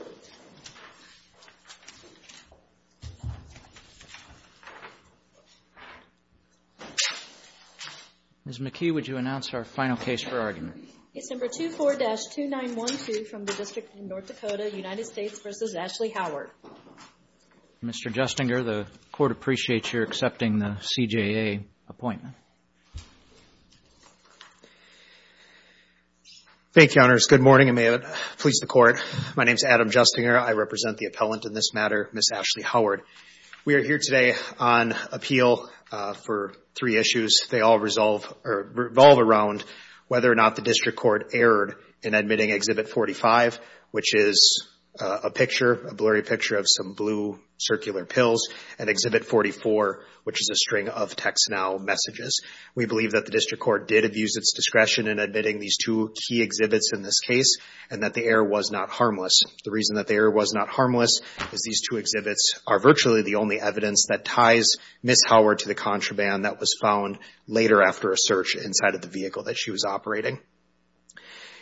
Mr. Justinger, the Court appreciates your accepting the CJA appointment. Thank you, Honors. Good morning, and may it please the Court. My name is Adam Justinger. I represent the appellant in this matter, Ms. Ashley Howard. We are here today on appeal for three issues. They all resolve or revolve around whether or not the District Court erred in admitting Exhibit 45, which is a picture, a blurry picture of some blue circular pills, and Exhibit 44, which is a string of text now messages. We believe that the District Court did abuse its discretion in admitting these two key exhibits in this case, and that the error was not harmless. The reason that the error was not harmless is these two exhibits are virtually the only evidence that ties Ms. Howard to the contraband that was found later after a search inside of the vehicle that she was operating.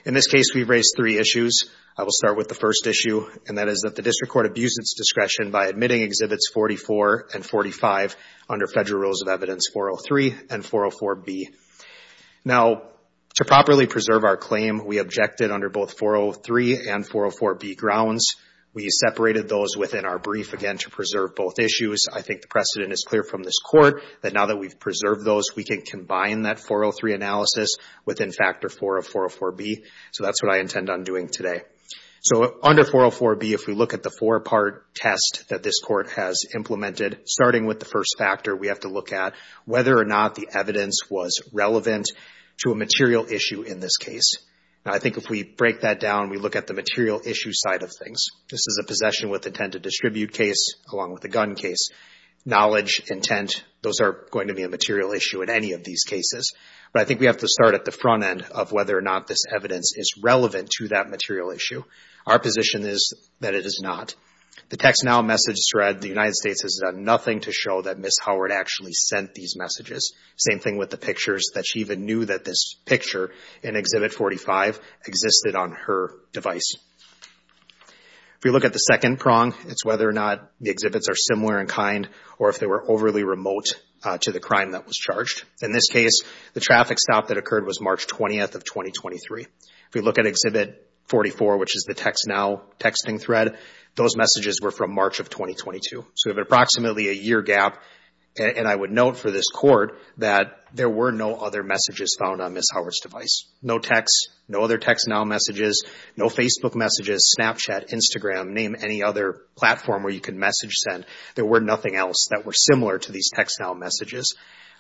In this case, we've raised three issues. I will start with the first issue, and that is that the District Court abused its discretion by admitting Exhibits 44 and 45 under Federal Rules of Evidence 403 and 404B. Now, to properly preserve our claim, we objected under both 403 and 404B grounds. We separated those within our brief, again, to preserve both issues. I think the precedent is clear from this Court that now that we've preserved those, we can combine that 403 analysis within Factor 404B, so that's what I intend on doing today. So under 404B, if we look at the four-part test that this Court has implemented, starting with the first factor, we have to look at whether or not the evidence was relevant to a material issue in this case. I think if we break that down, we look at the material issue side of things. This is a possession with intent to distribute case, along with a gun case. Knowledge, intent, those are going to be a material issue in any of these cases, but I think we have to start at the front end of whether or not this evidence is relevant to that material issue. Our position is that it is not. The Text Now message thread, the United States has done nothing to show that Ms. Howard actually sent these messages. Same thing with the pictures, that she even knew that this picture in Exhibit 45 existed on her device. If we look at the second prong, it's whether or not the exhibits are similar in kind or if they were overly remote to the crime that was charged. In this case, the traffic stop that occurred was March 20th of 2023. If we look at Exhibit 44, which is the Text Now texting thread, those messages were from March of 2022. We have approximately a year gap, and I would note for this court that there were no other messages found on Ms. Howard's device. No text, no other Text Now messages, no Facebook messages, Snapchat, Instagram, name any other platform where you can message send. There were nothing else that were similar to these Text Now messages.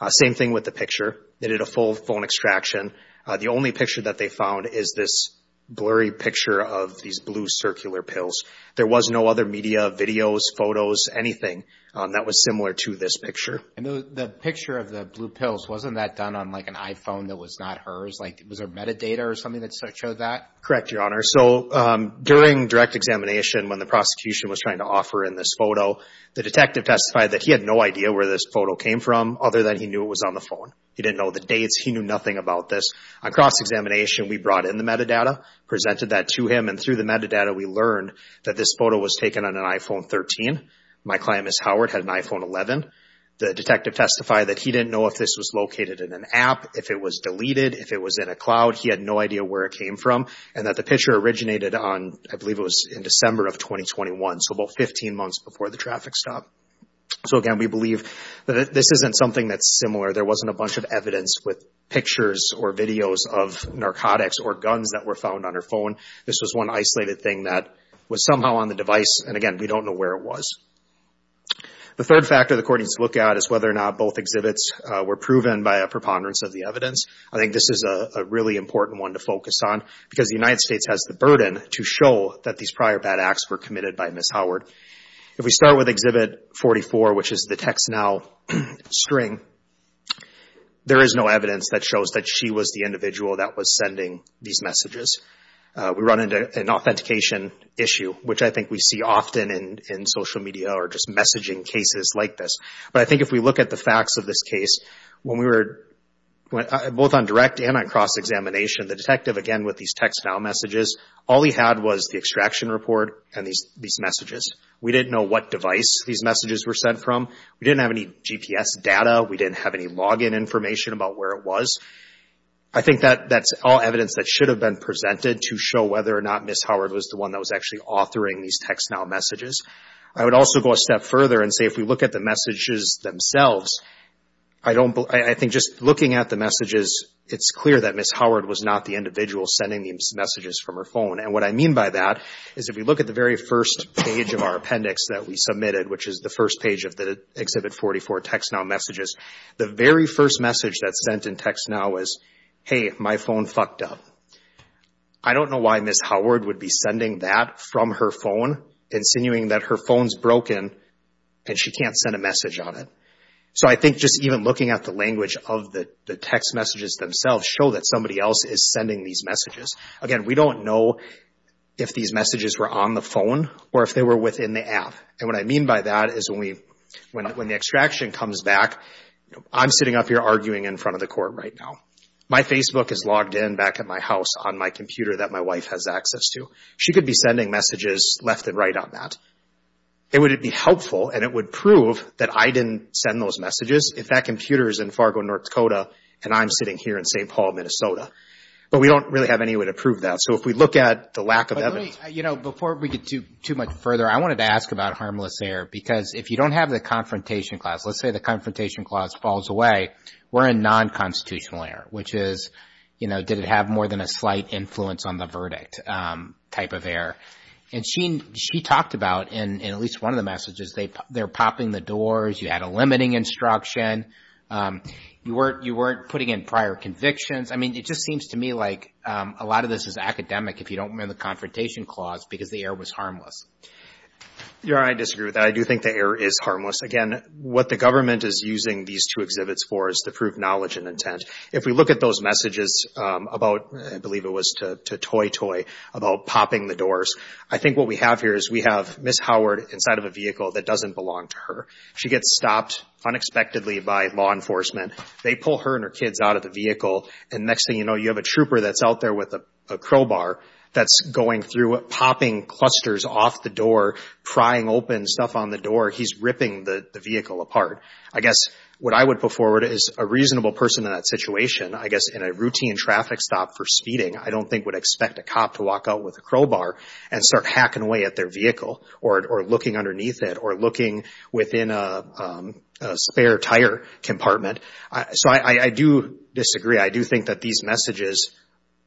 Same thing with the picture. They did a full phone extraction. The only picture that they found is this blurry picture of these blue circular pills. There was no other media, videos, photos, anything that was similar to this picture. The picture of the blue pills, wasn't that done on like an iPhone that was not hers? Like, was there metadata or something that showed that? Correct, Your Honor. So, during direct examination when the prosecution was trying to offer in this photo, the detective testified that he had no idea where this photo came from other than he knew it was on the phone. He didn't know the dates. He knew nothing about this. On cross-examination, we brought in the metadata, presented that to him, and through the metadata we learned that this photo was taken on an iPhone 13. My client, Ms. Howard, had an iPhone 11. The detective testified that he didn't know if this was located in an app, if it was deleted, if it was in a cloud. He had no idea where it came from, and that the picture originated on, I believe it was in December of 2021, so about 15 months before the traffic stop. So, again, we believe that this isn't something that's similar. There wasn't a bunch of evidence with pictures or videos of narcotics or guns that were found on her phone. This was one isolated thing that was somehow on the device, and again, we don't know where it was. The third factor the court needs to look at is whether or not both exhibits were proven by a preponderance of the evidence. I think this is a really important one to focus on because the United States has the burden to show that these prior bad acts were committed by Ms. Howard. If we start with Exhibit 44, which is the TextNow string, there is no evidence that shows that she was the individual that was sending these messages. We run into an authentication issue, which I think we see often in social media or just messaging cases like this, but I think if we look at the facts of this case, when we were both on direct and on cross-examination, the detective, again, with these TextNow messages, all he had was the extraction report and these messages. We didn't know what device these messages were sent from. We didn't have any GPS data. We didn't have any login information about where it was. I think that's all evidence that should have been presented to show whether or not Ms. Howard was the one that was actually authoring these TextNow messages. I would also go a step further and say if we look at the messages themselves, I think just looking at the messages, it's clear that Ms. Howard was not the individual sending these messages from her phone. What I mean by that is if we look at the very first page of our appendix that we submitted, which is the first page of the Exhibit 44 TextNow messages, the very first message that sent in TextNow is, hey, my phone fucked up. I don't know why Ms. Howard would be sending that from her phone, insinuating that her phone's broken and she can't send a message on it. I think just even looking at the language of the text messages themselves show that somebody else is sending these messages. Again, we don't know if these messages were on the phone or if they were within the app. What I mean by that is when the extraction comes back, I'm sitting up here arguing in front of the court right now. My Facebook is logged in back at my house on my computer that my wife has access to. She could be sending messages left and right on that. Would it be helpful and it would prove that I didn't send those messages if that computer is in Fargo, North Dakota, and I'm sitting here in St. Paul, Minnesota. But we don't really have any way to prove that. So if we look at the lack of evidence. But let me, you know, before we get too much further, I wanted to ask about harmless error because if you don't have the confrontation clause, let's say the confrontation clause falls away, we're in non-constitutional error, which is, you know, did it have more than a slight influence on the verdict type of error. And she talked about in at least one of the messages, they're popping the doors, you had a limiting instruction, you weren't putting in prior convictions, I mean, it just seems to me like a lot of this is academic if you don't remember the confrontation clause because the error was harmless. You're right. I disagree with that. I do think the error is harmless. Again, what the government is using these two exhibits for is to prove knowledge and intent. If we look at those messages about, I believe it was to Toy Toy, about popping the doors, I think what we have here is we have Ms. Howard inside of a vehicle that doesn't belong to her. She gets stopped unexpectedly by law enforcement. They pull her and her kids out of the vehicle and next thing you know, you have a trooper that's out there with a crowbar that's going through, popping clusters off the door, prying open stuff on the door. He's ripping the vehicle apart. I guess what I would put forward is a reasonable person in that situation, I guess in a routine traffic stop for speeding, I don't think would expect a cop to walk out with a crowbar and start hacking away at their vehicle or looking underneath it or looking within a spare tire compartment. So, I do disagree. I do think that these messages,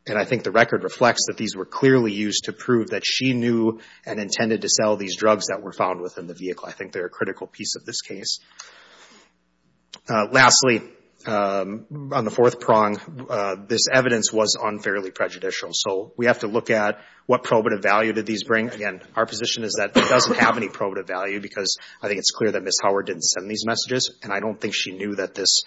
and I think the record reflects that these were clearly used to prove that she knew and intended to sell these drugs that were found within the I think they're a critical piece of this case. Lastly, on the fourth prong, this evidence was unfairly prejudicial, so we have to look at what probative value did these bring. Again, our position is that it doesn't have any probative value because I think it's clear that Ms. Howard didn't send these messages and I don't think she knew that this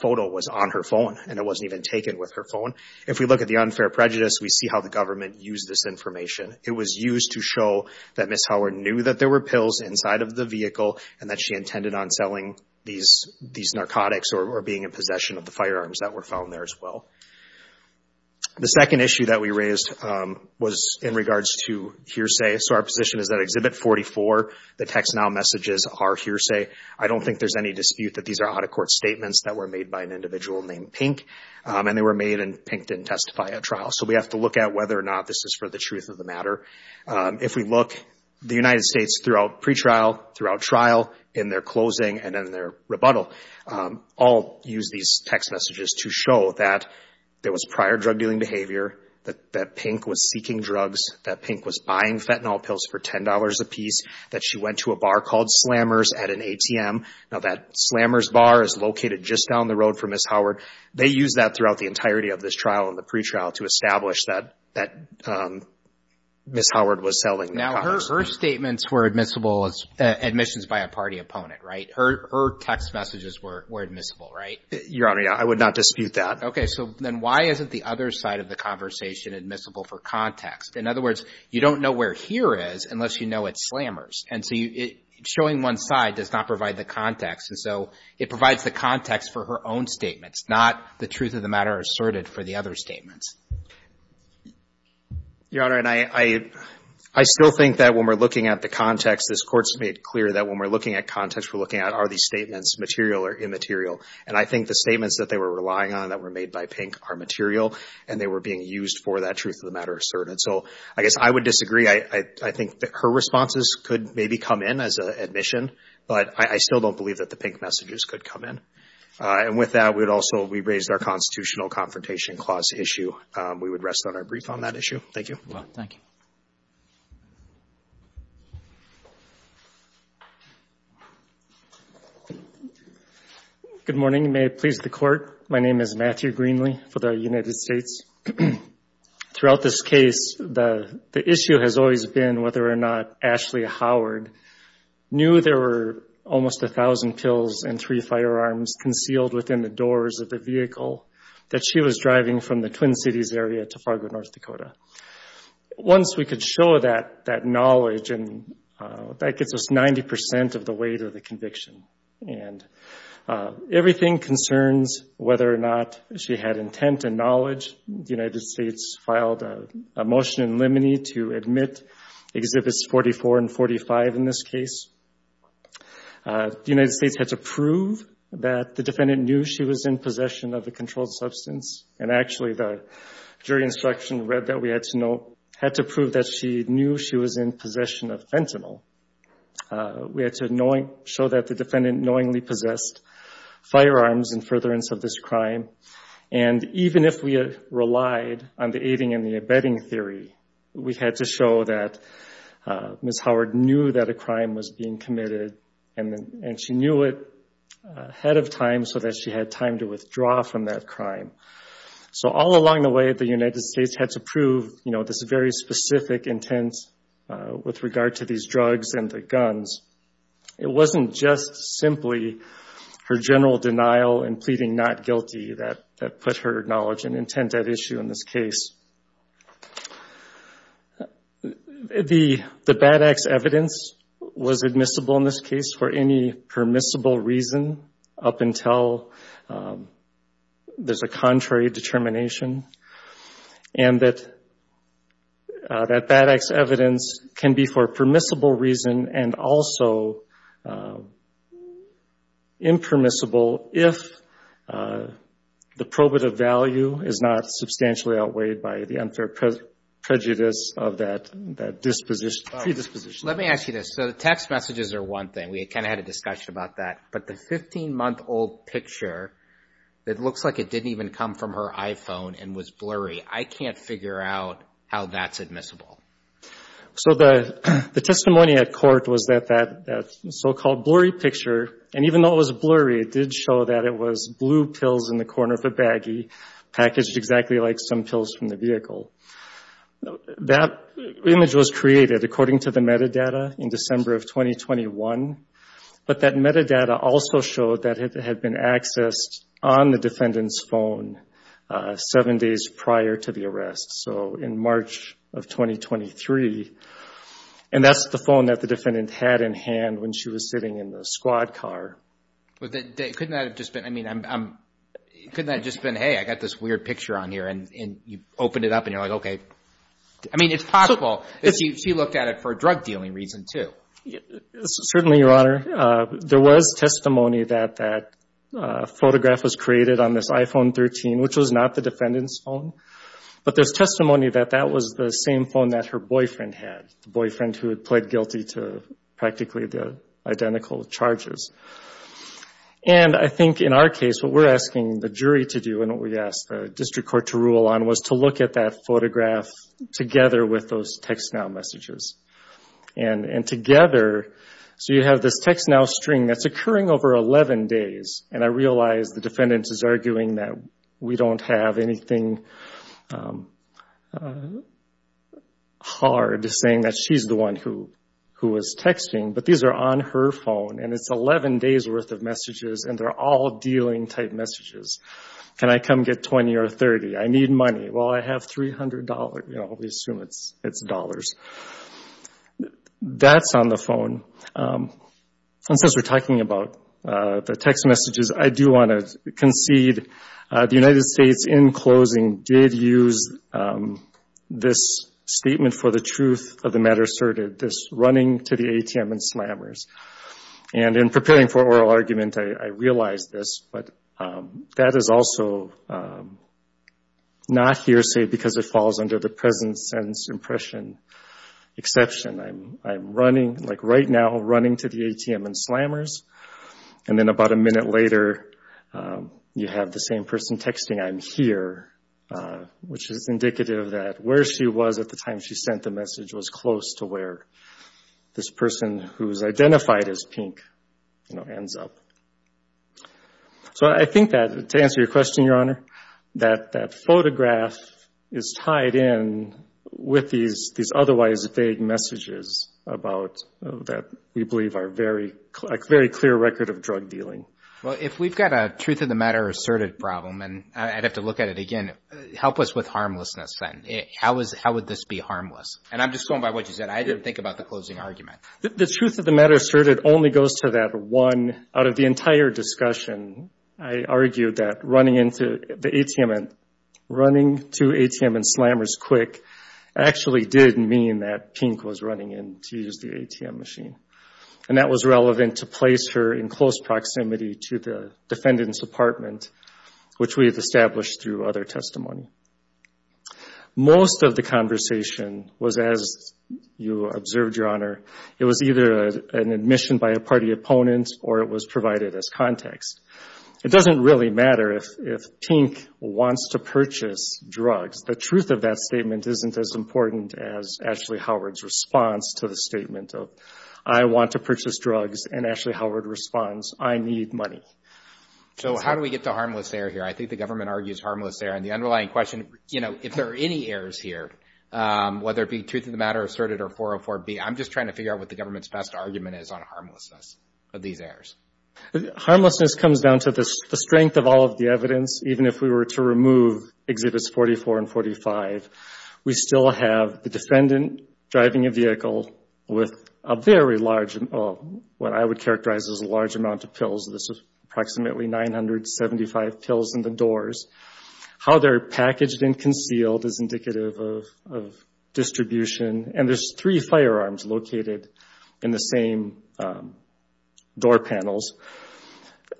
photo was on her phone and it wasn't even taken with her phone. If we look at the unfair prejudice, we see how the government used this information. It was used to show that Ms. Howard knew that there were pills inside of the vehicle and that she intended on selling these narcotics or being in possession of the firearms that were found there as well. The second issue that we raised was in regards to hearsay. So, our position is that Exhibit 44, the Text Now messages are hearsay. I don't think there's any dispute that these are out-of-court statements that were made by an individual named Pink, and they were made and Pink didn't testify at trial. So, we have to look at whether or not this is for the truth of the matter. If we look, the United States throughout pretrial, throughout trial, in their closing, and in their rebuttal, all used these text messages to show that there was prior drug dealing behavior, that Pink was seeking drugs, that Pink was buying fentanyl pills for $10 a piece, that she went to a bar called Slammer's at an ATM. Now, that Slammer's bar is located just down the road from Ms. Howard. They used that throughout the entirety of this trial and the pretrial to establish that Ms. Howard was selling narcotics. Now, her statements were admissible as admissions by a party opponent, right? Her text messages were admissible, right? Your Honor, I would not dispute that. Okay. So, then why isn't the other side of the conversation admissible for context? In other words, you don't know where here is unless you know it's Slammer's. And so, showing one side does not provide the context. And so, it provides the context for her own statements, not the truth of the matter asserted for the other statements. Your Honor, and I still think that when we're looking at the context, this Court's made clear that when we're looking at context, we're looking at, are these statements material or immaterial? And I think the statements that they were relying on that were made by Pink are material and they were being used for that truth of the matter asserted. So, I guess I would disagree. I think that her responses could maybe come in as an admission, but I still don't believe that the Pink messages could come in. And with that, we'd also, we raised our Constitutional Confrontation Clause issue. We would rest on our brief on that issue. Thank you. Thank you. Good morning. May it please the Court. My name is Matthew Greenlee for the United States. Throughout this case, the issue has always been whether or not Ashley Howard knew there were almost 1,000 pills and three firearms concealed within the doors of the vehicle that she was driving from the Twin Cities area to Fargo, North Dakota. Once we could show that knowledge, and that gets us 90% of the weight of the conviction. And everything concerns whether or not she had intent and knowledge. The United States filed a motion in limine to admit Exhibits 44 and 45 in this case. The United States had to prove that the defendant knew she was in possession of the controlled substance. And actually, the jury instruction read that we had to prove that she knew she was in possession of fentanyl. We had to show that the defendant knowingly possessed firearms in furtherance of this crime. And even if we had relied on the aiding and the abetting theory, we had to show that Ms. Howard knew that a crime was being committed. And she knew it ahead of time so that she had time to withdraw from that crime. So all along the way, the United States had to prove this very specific intent with regard to these drugs and the guns. It wasn't just simply her general denial and pleading not guilty that put her knowledge and intent at issue in this case. The BAD ACTS evidence was admissible in this case for any permissible reason up until there's a contrary determination. And that BAD ACTS evidence can be for permissible reason and also impermissible if the probative value is not substantially outweighed by the unfair prejudice of that predisposition. Let me ask you this. So the text messages are one thing. We kind of had a discussion about that. But the 15-month-old picture, it looks like it didn't even come from her iPhone and was I can't figure out how that's admissible. So the testimony at court was that that so-called blurry picture, and even though it was blurry, it did show that it was blue pills in the corner of a baggie packaged exactly like some pills from the vehicle. That image was created according to the metadata in December of 2021. But that metadata also showed that it had been accessed on the defendant's phone seven days prior to the arrest, so in March of 2023. And that's the phone that the defendant had in hand when she was sitting in the squad car. Couldn't that have just been, I mean, couldn't that have just been, hey, I got this weird picture on here and you opened it up and you're like, okay. I mean, it's possible that she looked at it for a drug dealing reason, too. Certainly, Your Honor. There was testimony that that photograph was created on this iPhone 13, which was not the defendant's phone. But there's testimony that that was the same phone that her boyfriend had, the boyfriend who had pled guilty to practically the identical charges. And I think in our case, what we're asking the jury to do and what we asked the district court to rule on was to look at that photograph together with those TextNow messages. And together, so you have this TextNow string that's occurring over 11 days, and I realize the defendant is arguing that we don't have anything hard saying that she's the one who was texting. But these are on her phone and it's 11 days' worth of messages and they're all dealing type messages. Can I come get 20 or 30? I need money. Well, I have $300. You know, we assume it's dollars. That's on the phone. And since we're talking about the text messages, I do want to concede the United States, in closing, did use this statement for the truth of the matter asserted, this running to the ATM and slammers. And in preparing for oral argument, I realized this, but that is also not hearsay because it falls under the present sentence impression exception. I'm running, like right now, running to the ATM and slammers. And then about a minute later, you have the same person texting, I'm here, which is indicative that where she was at the time she sent the message was close to where this person who is identified as pink ends up. So I think that, to answer your question, Your Honor, that that photograph is tied in with these otherwise vague messages about that we believe are a very clear record of drug dealing. Well, if we've got a truth of the matter asserted problem, and I'd have to look at it again, help us with harmlessness then. How would this be harmless? And I'm just going by what you said. I didn't think about the closing argument. The truth of the matter asserted only goes to that one, out of the entire discussion, I argued that running to the ATM and slammers quick actually did mean that pink was running in to use the ATM machine. And that was relevant to place her in close proximity to the defendant's apartment, which we have established through other testimony. Most of the conversation was, as you observed, Your Honor, it was either an admission by a party opponent or it was provided as context. It doesn't really matter if pink wants to purchase drugs. The truth of that statement isn't as important as Ashley Howard's response to the statement of, I want to purchase drugs. And Ashley Howard responds, I need money. So how do we get to harmless there here? I think the government argues harmless there. And the underlying question, if there are any errors here, whether it be truth of the matter asserted or 404B, I'm just trying to figure out what the government's best argument is on harmlessness of these errors. Harmlessness comes down to the strength of all of the evidence. Even if we were to remove Exhibits 44 and 45, we still have the defendant driving a vehicle with a very large, what I would characterize as a large amount of pills. This is approximately 975 pills in the doors. How they're packaged and concealed is indicative of distribution. And there's three firearms located in the same door panels.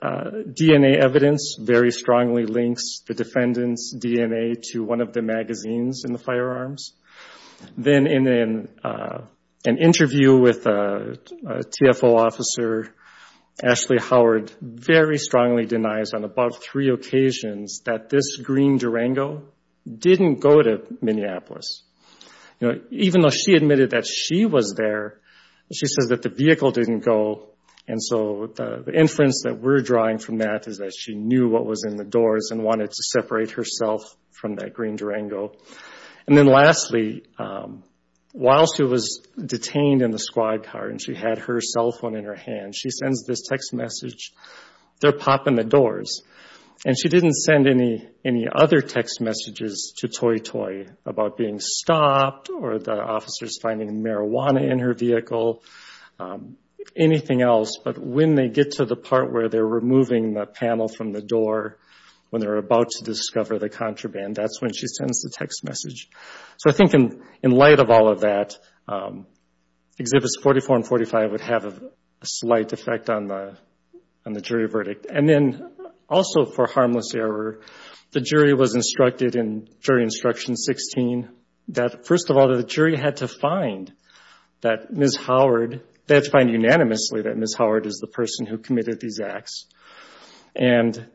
DNA evidence very strongly links the defendant's DNA to one of the magazines in the firearms. Then in an interview with a TFO officer, Ashley Howard very strongly denies on about three occasions that this green Durango didn't go to Minneapolis. Even though she admitted that she was there, she says that the vehicle didn't go. And so the inference that we're drawing from that is that she knew what was in the doors and wanted to separate herself from that green Durango. And then lastly, while she was detained in the squad car and she had her cell phone in her hand, she sends this text message, they're popping the doors. And she didn't send any other text messages to Toy Toy about being stopped or the officers finding marijuana in her vehicle, anything else. But when they get to the part where they're removing the panel from the door, when they're about to discover the contraband, that's when she sends the text message. So I think in light of all of that, Exhibits 44 and 45 would have a slight effect on the jury verdict. And then also for harmless error, the jury was instructed in Jury Instruction 16 that first of all, the jury had to find that Ms. Howard, they had to find unanimously that Ms. Howard is the person who committed these acts. And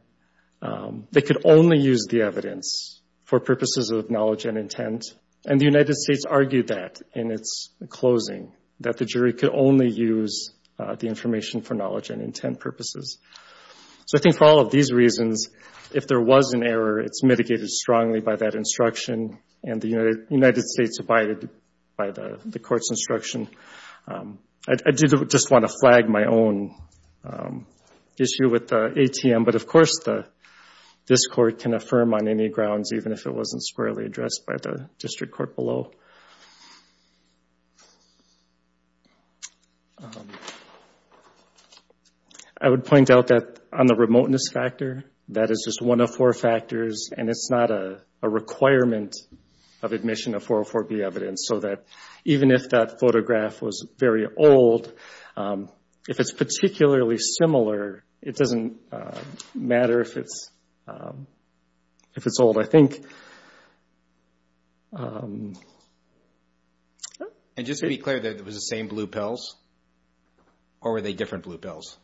they could only use the evidence for purposes of knowledge and intent. And the United States argued that in its closing, that the jury could only use the information for knowledge and intent purposes. So I think for all of these reasons, if there was an error, it's mitigated strongly by that instruction and the United States abided by the court's instruction. I do just want to flag my own issue with the ATM, but of course this court can affirm on any grounds, even if it wasn't squarely addressed by the district court below. I would point out that on the remoteness factor, that is just one of four factors and it's not a requirement of admission of 404B evidence. So that even if that photograph was very old, if it's particularly similar, it doesn't matter if it's old. So I think... And just to be clear, that it was the same blue pills? Or were they different blue pills?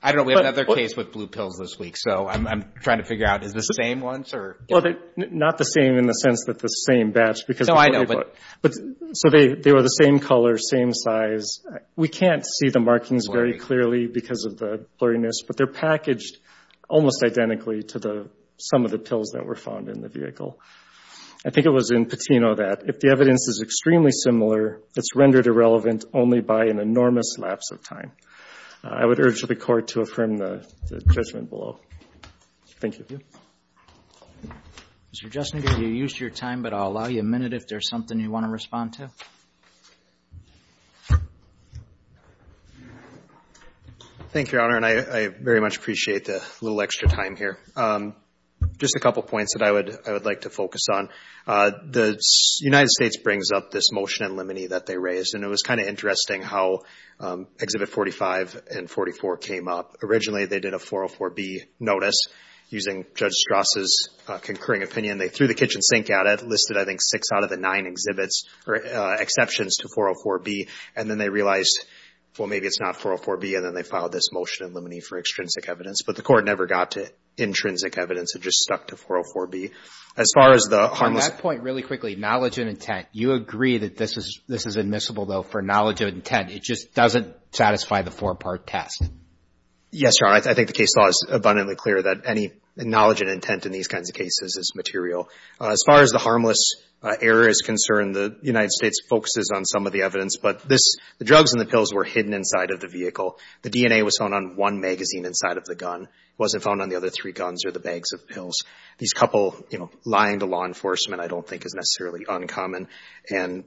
I don't know. We have another case with blue pills this week. So I'm trying to figure out, is this the same ones? Not the same in the sense that it's the same batch. So they were the same color, same size. We can't see the markings very clearly because of the blurriness, but they're packaged almost identically to some of the pills that were found in the vehicle. I think it was in Patino that, if the evidence is extremely similar, it's rendered irrelevant only by an enormous lapse of time. I would urge the court to affirm the judgment below. Thank you. Mr. Justin, you've used your time, but I'll allow you a minute if there's something you want to respond to. Thank you, Your Honor, and I very much appreciate the little extra time here. Just a couple points that I would like to focus on. The United States brings up this motion in limine that they raised, and it was kind of interesting how Exhibit 45 and 44 came up. Originally, they did a 404B notice using Judge Strasse's concurring opinion. They threw the kitchen sink at it, listed, I think, six out of the nine exceptions to 404B, and then they realized, well, maybe it's not 404B, and then they filed this motion in limine for extrinsic evidence, but the court never got to intrinsic evidence. It just stuck to 404B. As far as the harmless— Your Honor, on that point, really quickly, knowledge and intent. You agree that this is admissible, though, for knowledge and intent. It just doesn't satisfy the four-part test. Yes, Your Honor. I think the case law is abundantly clear that any knowledge and intent in these kinds of As far as the harmless error is concerned, the United States focuses on some of the evidence, but this — the drugs and the pills were hidden inside of the vehicle. The DNA was found on one magazine inside of the gun. It wasn't found on the other three guns or the bags of pills. These couple, you know, lying to law enforcement I don't think is necessarily uncommon, and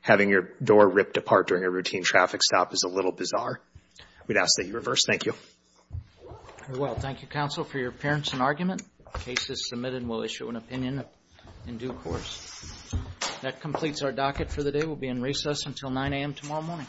having your door ripped apart during a routine traffic stop is a little bizarre. We'd ask that you reverse. Thank you. Very well. Thank you, counsel, for your appearance and argument. The case is submitted and we'll issue an opinion in due course. That completes our docket for the day. We'll be in recess until 9 a.m. tomorrow morning.